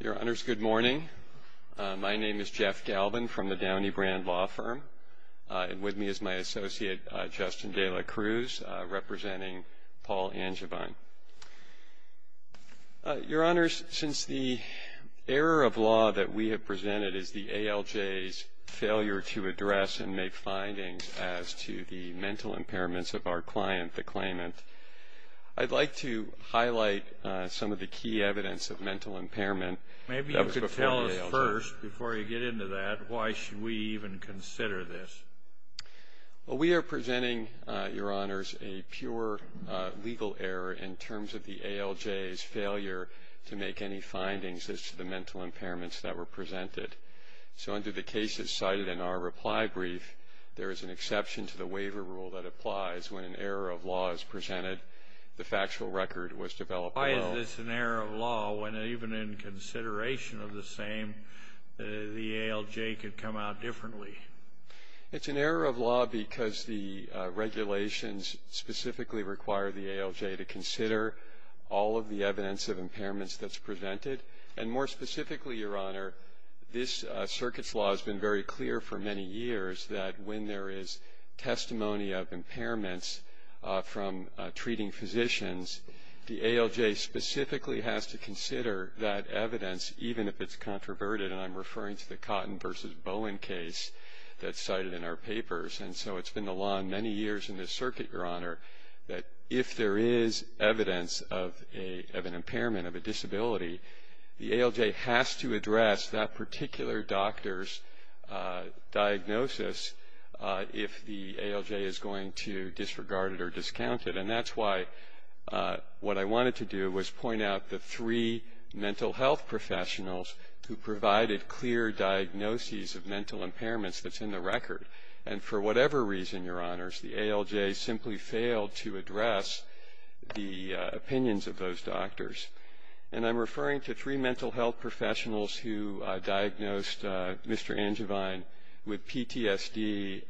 Your Honors, good morning. My name is Jeff Galvin from the Downey Brand Law Firm, and with me is my associate, Justin de la Cruz, representing Paul Angevine. Your Honors, since the error of law that we have presented is the ALJ's failure to address and make findings as to the mental impairments of our client, the claimant, I'd like to highlight some of the key evidence of mental impairment that was before the ALJ. Maybe you could tell us first, before you get into that, why should we even consider this? Well, we are presenting, Your Honors, a pure legal error in terms of the ALJ's failure to make any findings as to the mental impairments that were presented. So under the cases cited in our reply brief, there is an exception to the waiver rule that applies when an error of law is presented, the factual record was developed below. Why is this an error of law when even in consideration of the same, the ALJ could come out differently? It's an error of law because the regulations specifically require the ALJ to consider all of the evidence of impairments that's presented, and more specifically, Your Honor, this circuit's law has been very clear for many years that when there is testimony of impairments from treating physicians, the ALJ specifically has to consider that evidence even if it's controverted, and I'm referring to the Cotton v. Bowen case that's cited in our papers. And so it's been the law many years in this circuit, Your Honor, that if there is evidence of an impairment, of a disability, the ALJ has to address that particular doctor's diagnosis if the ALJ is going to disregard it or discount it, and that's why what I wanted to do was point out the three mental health professionals who provided clear diagnoses of mental impairments that's in the record, and for whatever reason, Your Honors, the ALJ simply failed to address the opinions of those doctors, and I'm referring to three mental health professionals who diagnosed Mr. Angivine with PTSD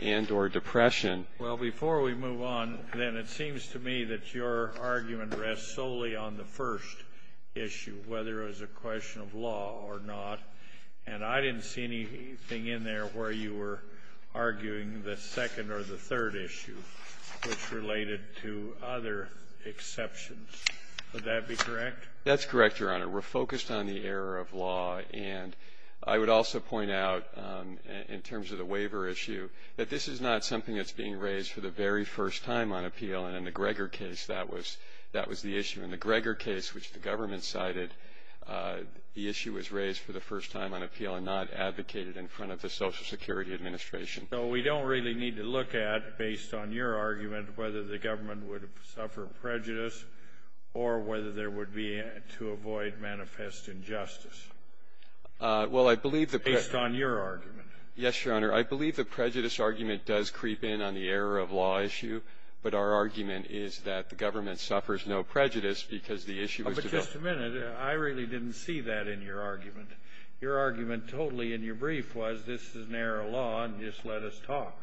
and or depression. Well, before we move on, then, it seems to me that your argument rests solely on the first issue, whether it was a question of law or not, and I didn't see anything in there where you were arguing the second or the third issue, which related to other exceptions. Would that be correct? That's correct, Your Honor. We're focused on the error of law, and I would also point out, in terms of the waiver issue, that this is not something that's being raised for the very first time on appeal, and in the Greger case, that was the issue. In the Greger case, which the government cited, the issue was raised for the first time on appeal and not advocated in front of the Social Security Administration. So we don't really need to look at, based on your argument, whether the government would suffer prejudice or whether there would be, to avoid manifest injustice, based on your argument. Yes, Your Honor. I believe the prejudice argument does creep in on the error of law issue, but our argument is that the government suffers no prejudice because the issue was developed. Just a minute. I really didn't see that in your argument. Your argument, totally, in your brief was, this is an error of law, and just let us talk.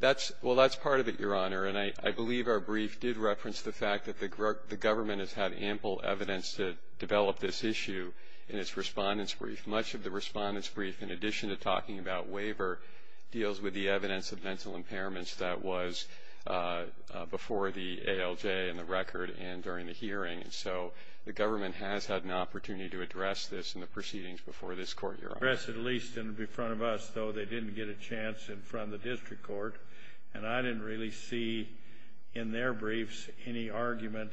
That's, well, that's part of it, Your Honor, and I believe our brief did reference the fact that the government has had ample evidence to develop this issue in its respondent's brief. Much of the respondent's brief, in addition to talking about waiver, deals with the evidence of mental impairments that was before the ALJ and the record and during the trial. So the government has had an opportunity to address this in the proceedings before this Court, Your Honor. At least in front of us, though, they didn't get a chance in front of the district court, and I didn't really see in their briefs any argument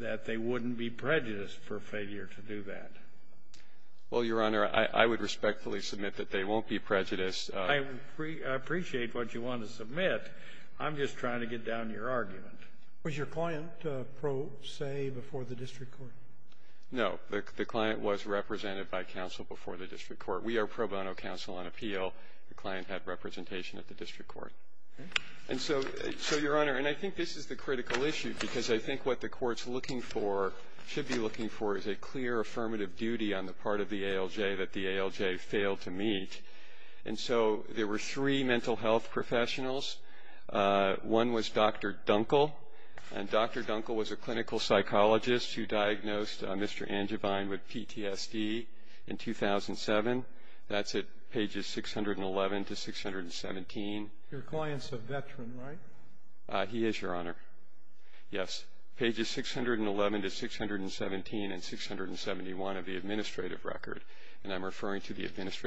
that they wouldn't be prejudiced for failure to do that. Well, Your Honor, I would respectfully submit that they won't be prejudiced. I appreciate what you want to submit. I'm just trying to get down your argument. Was your client pro se before the district court? No. The client was represented by counsel before the district court. We are pro bono counsel on appeal. The client had representation at the district court. And so, Your Honor, and I think this is the critical issue, because I think what the court's looking for, should be looking for, is a clear affirmative duty on the part of the ALJ that the ALJ failed to meet. And so there were three mental health professionals. One was Dr. Dunkel, and Dr. Dunkel was a clinical psychologist who diagnosed Mr. Angivine with PTSD in 2007. That's at pages 611 to 617. Your client's a veteran, right? He is, Your Honor. Yes. Pages 611 to 617 and 671 of the administrative record, and I'm referring to the case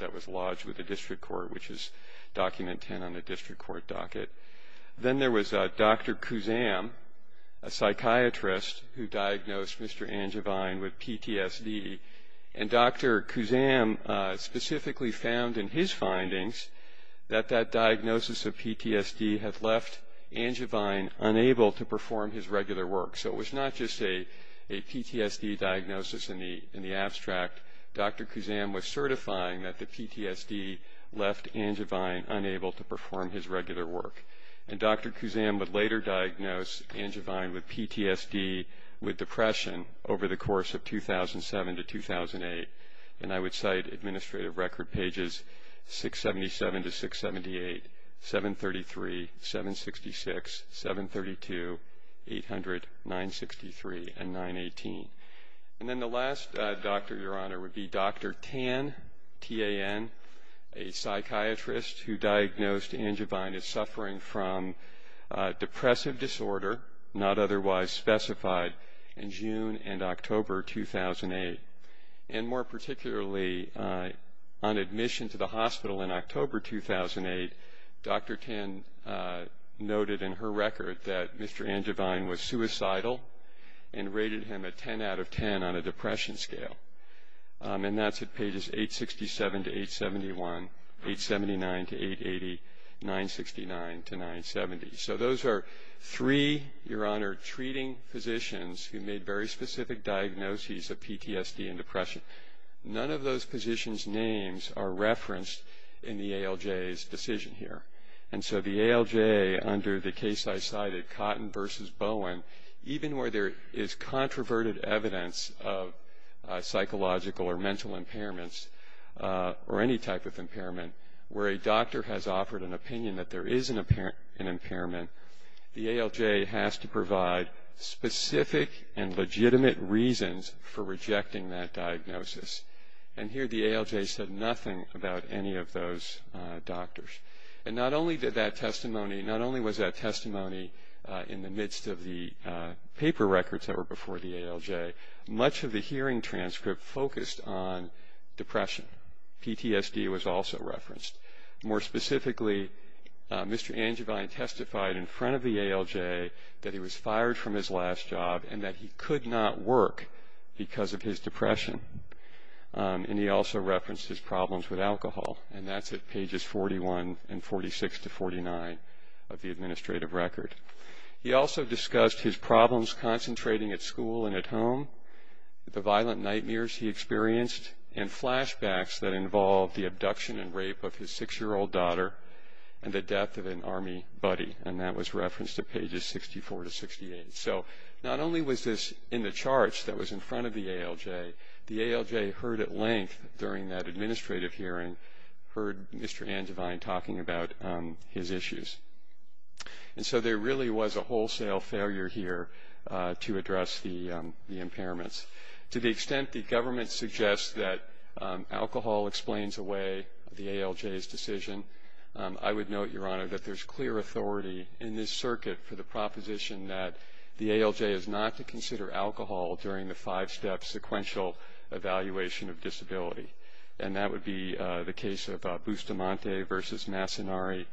that was lodged with the district court, which is document 10 on the district court docket. Then there was Dr. Kuzam, a psychiatrist who diagnosed Mr. Angivine with PTSD. And Dr. Kuzam specifically found in his findings that that diagnosis of PTSD had left Angivine unable to perform his regular work. So it was not just a PTSD diagnosis in the abstract. Dr. Kuzam was certifying that the PTSD left Angivine unable to perform his regular work. And Dr. Kuzam would later diagnose Angivine with PTSD with depression over the course of 2007 to 2008. And I would cite administrative record pages 677 to 678, 733, 766, 732, 800, 963, and 918. And then the last doctor, Your Honor, would be Dr. Tan, T-A-N, a psychiatrist who diagnosed Angivine as suffering from depressive disorder, not otherwise specified, in June and October 2008. And more particularly, on admission to the hospital in October 2008, Dr. Tan noted in her record that Mr. Angivine was suicidal and rated him a 10 out of 10 on a depression scale. And that's at pages 867 to 871, 879 to 880, 969 to 970. So those are three, Your Honor, treating physicians who made very specific diagnoses of PTSD and depression. None of those positions' names are referenced in the ALJ's decision here. And so the ALJ, under the case I cited, Cotton v. Bowen, even where there is controverted evidence of psychological or mental impairments, or any type of impairment, where a doctor has offered an opinion that there is an impairment, the ALJ has to provide specific and legitimate reasons for rejecting that diagnosis. And here the ALJ said nothing about any of those doctors. And not only did that testimony, not only was that testimony in the midst of the paper records that were before the ALJ, much of the hearing transcript focused on depression. PTSD was also referenced. More specifically, Mr. Angivine testified in front of the ALJ that he was fired from his last job and that he could not work because of his depression. And he also referenced his problems with alcohol. And that's at pages 41 and 46 to 49 of the administrative record. He also discussed his problems concentrating at school and at home, the violent nightmares he experienced, and flashbacks that involved the abduction and rape of his six-year-old daughter and the death of an Army buddy. And that was referenced at pages 64 to 68. So not only was this in the charts that was in front of the ALJ, the ALJ heard at length during that administrative hearing, heard Mr. Angivine talking about his issues. And so there really was a wholesale failure here to address the impairments. To the extent the government suggests that alcohol explains away the ALJ's decision, I would note, Your Honor, that there's clear authority in this circuit for the proposition that the ALJ is not to consider alcohol during the five-step sequential evaluation of disability. And that would be the case of Bustamante v. Massinari,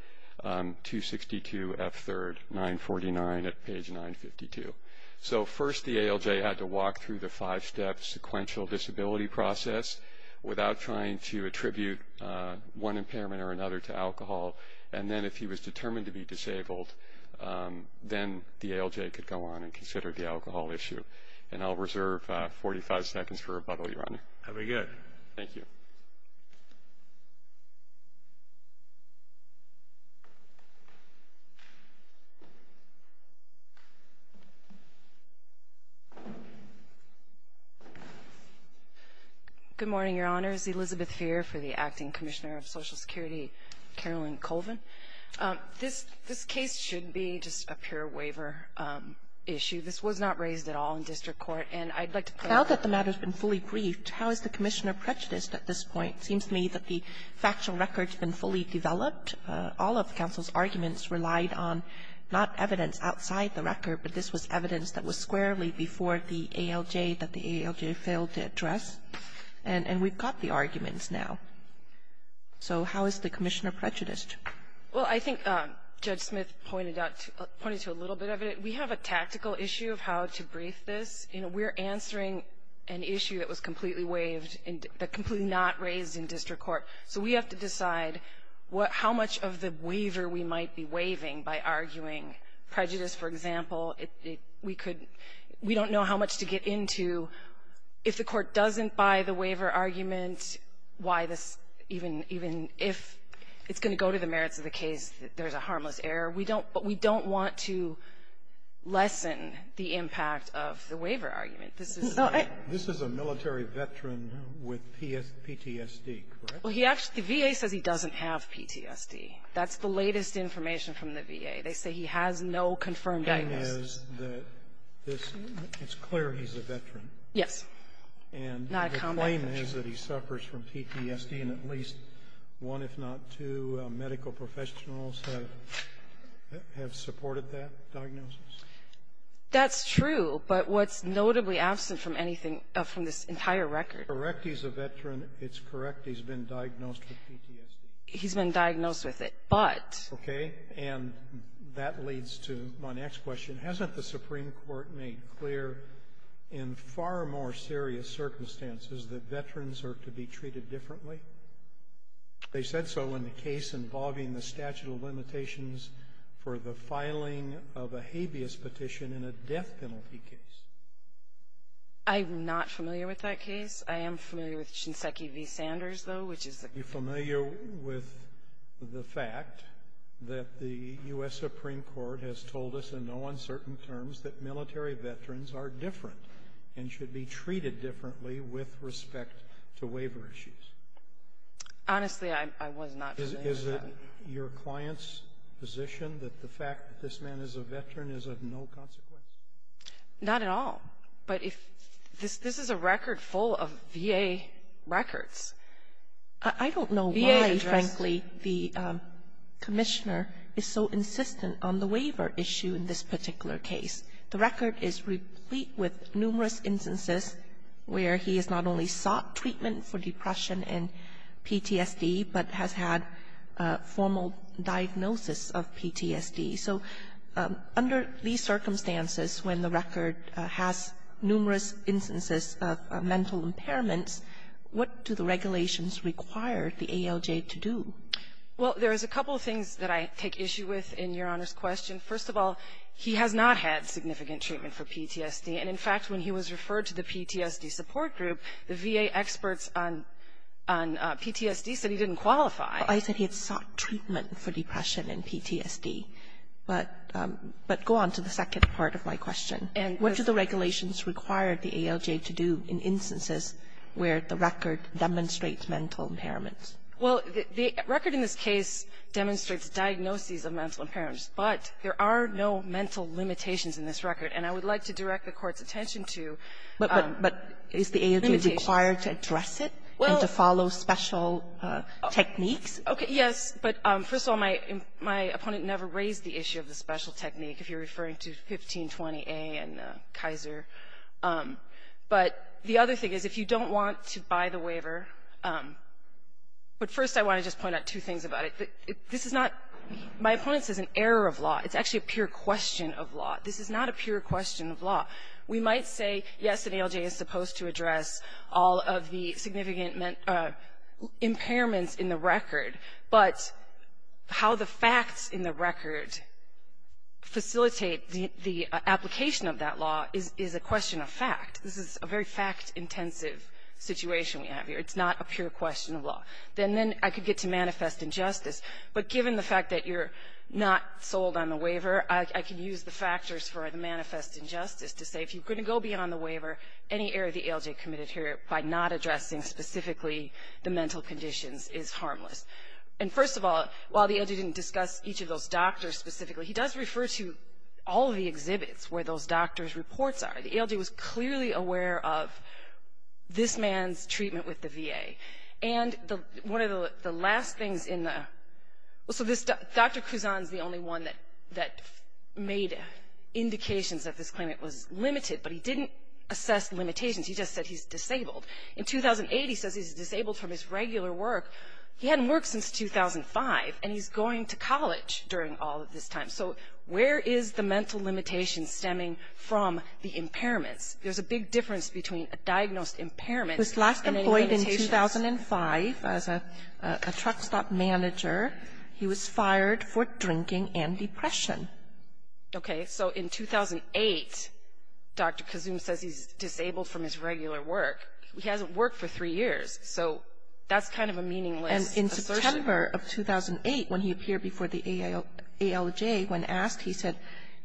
262 F. 3rd, 949 at page 952. So first the ALJ had to walk through the five-step sequential disability process without trying to attribute one impairment or another to alcohol. And then if he was determined to be disabled, then the ALJ could go on and consider the alcohol issue. And I'll reserve 45 seconds for rebuttal, Your Honor. Have a good. Thank you. Good morning, Your Honors. This is Elizabeth Feer for the Acting Commissioner of Social Security, Carolyn Colvin. This case should be just a pure waiver issue. This was not raised at all in district court. And I'd like to point out that the matter's been fully briefed. How is the commissioner prejudiced at this point? Seems to me that the factual record's been fully developed. All of the counsel's arguments relied on not evidence outside the record, but this was evidence that was squarely before the ALJ that the ALJ failed to address. And we've got the arguments now. So how is the commissioner prejudiced? Well, I think Judge Smith pointed out, pointed to a little bit of it. We have a tactical issue of how to brief this. You know, we're answering an issue that was completely waived and completely not raised in district court. So we have to decide how much of the waiver we might be waiving by arguing prejudice, for example. We could we don't know how much to get into. If the court doesn't buy the waiver argument, why this even if it's going to go to the merits of the case, there's a harmless error. But we don't want to lessen the impact of the waiver argument. This is a military veteran with PTSD, correct? Well, he actually, the VA says he doesn't have PTSD. That's the latest information from the VA. They say he has no confirmed diagnosis. The VA says that this, it's clear he's a veteran. Yes. And the claim is that he suffers from PTSD, and at least one if not two medical professionals have supported that diagnosis. That's true, but what's notably absent from anything, from this entire record. Correct, he's a veteran. It's correct, he's been diagnosed with PTSD. He's been diagnosed with it, but. Okay, and that leads to my next question. Hasn't the Supreme Court made clear in far more serious circumstances that veterans are to be treated differently? They said so in the case involving the statute of limitations for the filing of a habeas petition in a death penalty case. I'm not familiar with that case. I am familiar with Shinseki v. Sanders, though, which is. Are you familiar with the fact that the U.S. Supreme Court has told us in no uncertain terms that military veterans are different and should be treated differently with respect to waiver issues? Honestly, I was not familiar with that. Is it your client's position that the fact that this man is a veteran is of no consequence? Not at all, but if, this is a record full of VA records. I don't know why, frankly, the commissioner is so insistent on the waiver issue in this particular case. The record is replete with numerous instances where he has not only sought treatment for depression and PTSD, but has had a formal diagnosis of PTSD. So, under these circumstances, when the record has numerous instances of mental impairments, what do the regulations require the ALJ to do? Well, there is a couple of things that I take issue with in Your Honor's question. First of all, he has not had significant treatment for PTSD. And, in fact, when he was referred to the PTSD support group, the VA experts on PTSD said he didn't qualify. I said he had sought treatment for depression and PTSD. But go on to the second part of my question. What do the regulations require the ALJ to do in instances where the record demonstrates mental impairments? Well, the record in this case demonstrates diagnoses of mental impairments. But there are no mental limitations in this record. And I would like to direct the Court's attention to limitations. But is the ALJ required to address it and to follow special techniques? Okay. Yes. But, first of all, my opponent never raised the issue of the special technique if you're referring to 1520A and Kaiser. But the other thing is, if you don't want to buy the waiver, but first I want to just point out two things about it. This is not my opponent says an error of law. It's actually a pure question of law. This is not a pure question of law. We might say, yes, the ALJ is supposed to address all of the significant impairments in the record. But how the facts in the record facilitate the application of that law is a question of fact. This is a very fact-intensive situation we have here. It's not a pure question of law. Then I could get to manifest injustice. But given the fact that you're not sold on the waiver, I can use the factors for the manifest injustice to say, if you're going to go beyond the waiver, any error the ALJ committed here by not addressing specifically the mental conditions is harmless. And first of all, while the ALJ didn't discuss each of those doctors specifically, he does refer to all of the exhibits where those doctors' reports are. The ALJ was clearly aware of this man's treatment with the VA. And one of the last things in the – so this – Dr. Cusan is the only one that made indications that this claimant was limited, but he didn't assess limitations. He just said he's disabled. In 2008, he says he's disabled from his regular work. He hadn't worked since 2005, and he's going to college during all of this time. So where is the mental limitation stemming from the impairments? There's a big difference between a diagnosed impairment and an impairment. Kagan in 2005, as a truck stop manager, he was fired for drinking and depression. Okay. So in 2008, Dr. Cusan says he's disabled from his regular work. He hasn't worked for three years. So that's kind of a meaningless assertion. And in September of 2008, when he appeared before the ALJ, when asked, he said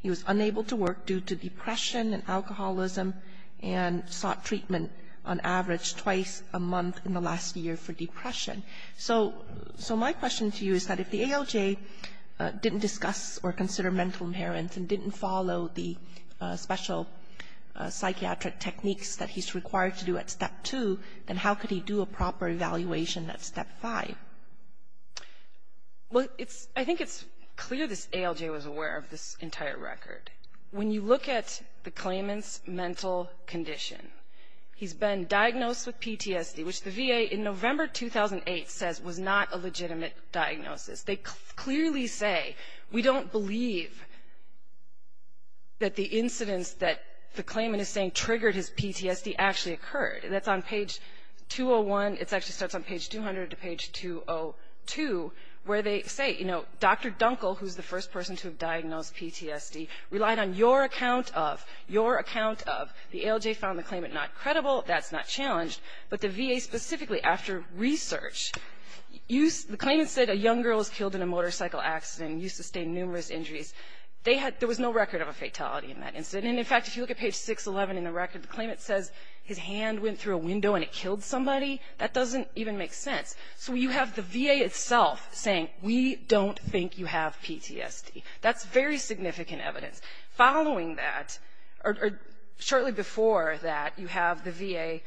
he was unable to work due to depression and alcoholism and sought treatment, on average, twice a month in the last year for depression. So my question to you is that if the ALJ didn't discuss or consider mental impairments and didn't follow the special psychiatric techniques that he's required to do at Step 2, then how could he do a proper evaluation at Step 5? Well, it's – I think it's clear this ALJ was aware of this entire record. When you look at the claimant's mental condition, he's been diagnosed with PTSD, which the VA, in November 2008, says was not a legitimate diagnosis. They clearly say, we don't believe that the incidents that the claimant is saying triggered his PTSD actually occurred. That's on page 201. It actually starts on page 200 to page 202, where they say, you know, Dr. Dunkel, who's the first person to have diagnosed PTSD, relied on your account of – your account of – the ALJ found the claimant not credible. That's not challenged. But the VA specifically, after research, used – the claimant said a young girl was killed in a motorcycle accident and used to sustain numerous injuries. They had – there was no record of a fatality in that incident. And in fact, if you look at page 611 in the record, the claimant says his hand went through a window and it killed somebody. That doesn't even make sense. So you have the VA itself saying, we don't think you have PTSD. That's very significant evidence. Following that, or shortly before that, you have the VA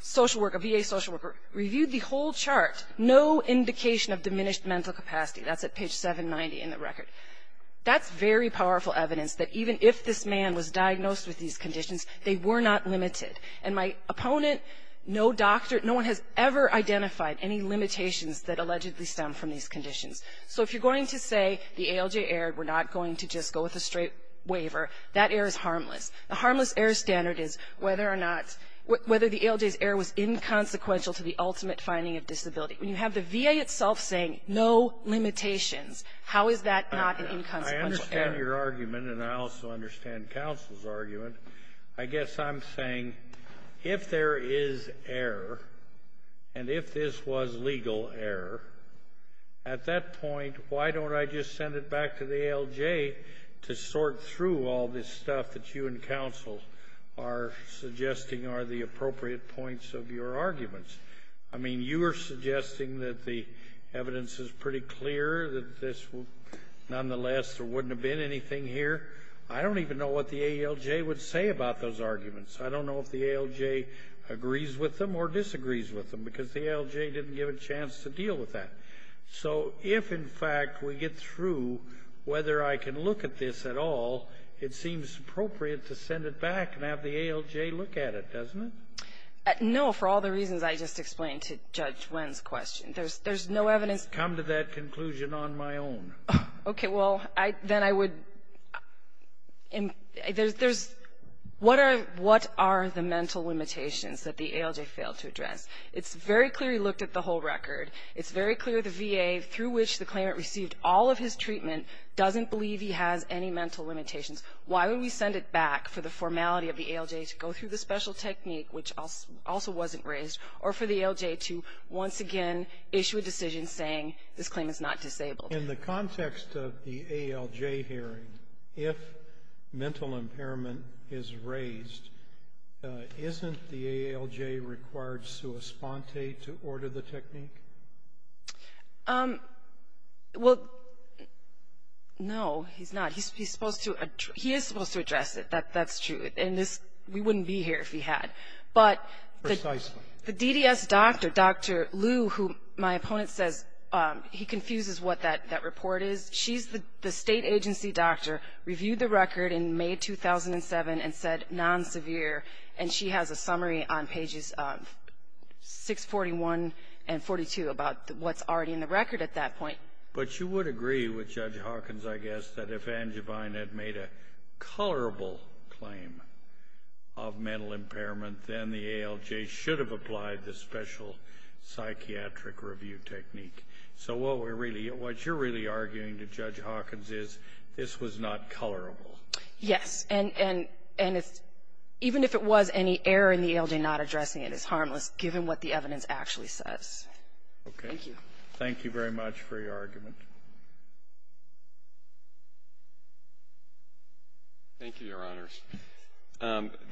social worker – a VA social worker reviewed the whole chart, no indication of diminished mental capacity. That's at page 790 in the record. That's very powerful evidence that even if this man was diagnosed with these conditions, they were not limited. And my opponent, no doctor – no one has ever identified any limitations that allegedly stem from these conditions. So if you're going to say the ALJ error, we're not going to just go with a straight waiver, that error is harmless. The harmless error standard is whether or not – whether the ALJ's error was inconsequential to the ultimate finding of disability. When you have the VA itself saying no limitations, how is that not an inconsequential error? I understand your argument, and I also understand counsel's argument. I guess I'm saying, if there is error, and if this was legal error, at that point, why don't I just send it back to the ALJ to sort through all this stuff that you and counsel are suggesting are the appropriate points of your arguments? I mean, you are suggesting that the evidence is pretty clear that this nonetheless there wouldn't have been anything here. I don't even know what the ALJ would say about those arguments. I don't know if the ALJ agrees with them or disagrees with them, because the ALJ didn't give it a chance to deal with that. So if, in fact, we get through whether I can look at this at all, it seems appropriate to send it back and have the ALJ look at it, doesn't it? No, for all the reasons I just explained to Judge Wen's question. There's no evidence – Come to that conclusion on my own. Okay. Well, then I would – there's – what are the mental limitations that the ALJ failed to address? It's very clear he looked at the whole record. It's very clear the VA, through which the claimant received all of his treatment, doesn't believe he has any mental limitations. Why would we send it back for the formality of the ALJ to go through the special technique, which also wasn't raised, or for the ALJ to once again issue a decision saying this claim is not disabled? In the context of the ALJ hearing, if mental impairment is raised, isn't the ALJ required sua sponte to order the technique? Well, no, he's not. He's supposed to – he is supposed to address it. That's true. And this – we wouldn't be here if he had. But – Precisely. The DDS doctor, Dr. Liu, who my opponent says he confuses what that report is, she's the state agency doctor, reviewed the record in May 2007 and said non-severe, and she has a summary on pages 641 and 42 about what's already in the record at that point. But you would agree with Judge Hawkins, I guess, that if Angevine had made a colorable claim of mental impairment, then the ALJ should have applied the special psychiatric review technique. So what we're really – what you're really arguing to Judge Hawkins is this was not colorable. Yes. And – and if – even if it was, any error in the ALJ not addressing it is harmless, given what the evidence actually says. Okay. Thank you. Thank you very much for your argument. Thank you, Your Honors.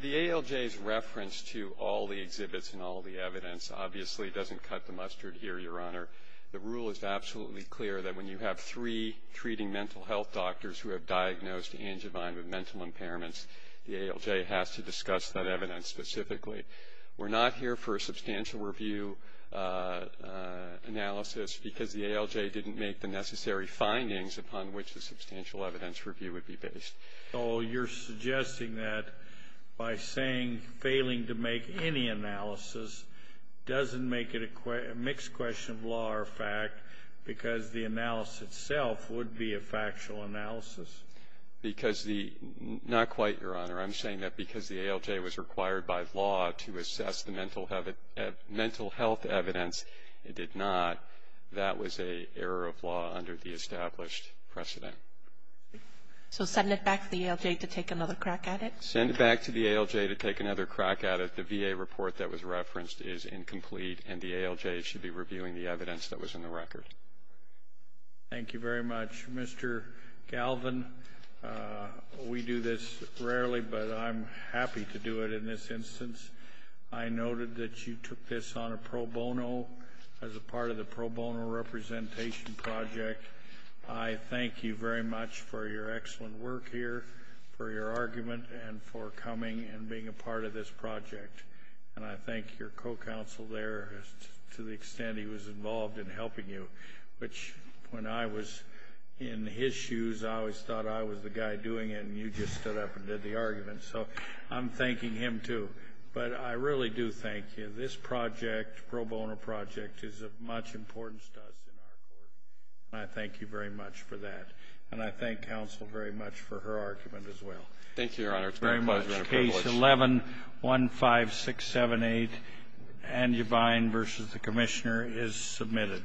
The ALJ's reference to all the exhibits and all the evidence obviously doesn't cut the mustard here, Your Honor. The rule is absolutely clear that when you have three treating mental health doctors who have diagnosed Angevine with mental impairments, the ALJ has to discuss that evidence specifically. We're not here for a substantial review analysis because the ALJ didn't make the necessary findings upon which the substantial evidence review would be based. So you're suggesting that by saying failing to make any analysis doesn't make it a mixed question of law or fact because the analysis itself would be a factual analysis? Because the – not quite, Your Honor. I'm saying that because the ALJ was required by law to assess the mental health evidence, it did not. That was an error of law under the established precedent. So send it back to the ALJ to take another crack at it? Send it back to the ALJ to take another crack at it. The VA report that was referenced is incomplete and the ALJ should be reviewing the evidence that was in the record. Thank you very much, Mr. Galvin. Mr. Galvin, we do this rarely, but I'm happy to do it in this instance. I noted that you took this on a pro bono as a part of the pro bono representation project. I thank you very much for your excellent work here, for your argument, and for coming and being a part of this project. And I thank your co-counsel there to the extent he was involved in helping you, which when I was in his shoes, I always thought I was the guy doing it, and you just stood up and did the argument. So I'm thanking him, too. But I really do thank you. This project, pro bono project, is of much importance to us in our court, and I thank you very much for that. And I thank counsel very much for her argument as well. Thank you, Your Honor. It's been a pleasure and a privilege. Very much. Case 11-15678, Angebine v. The Commissioner, is submitted.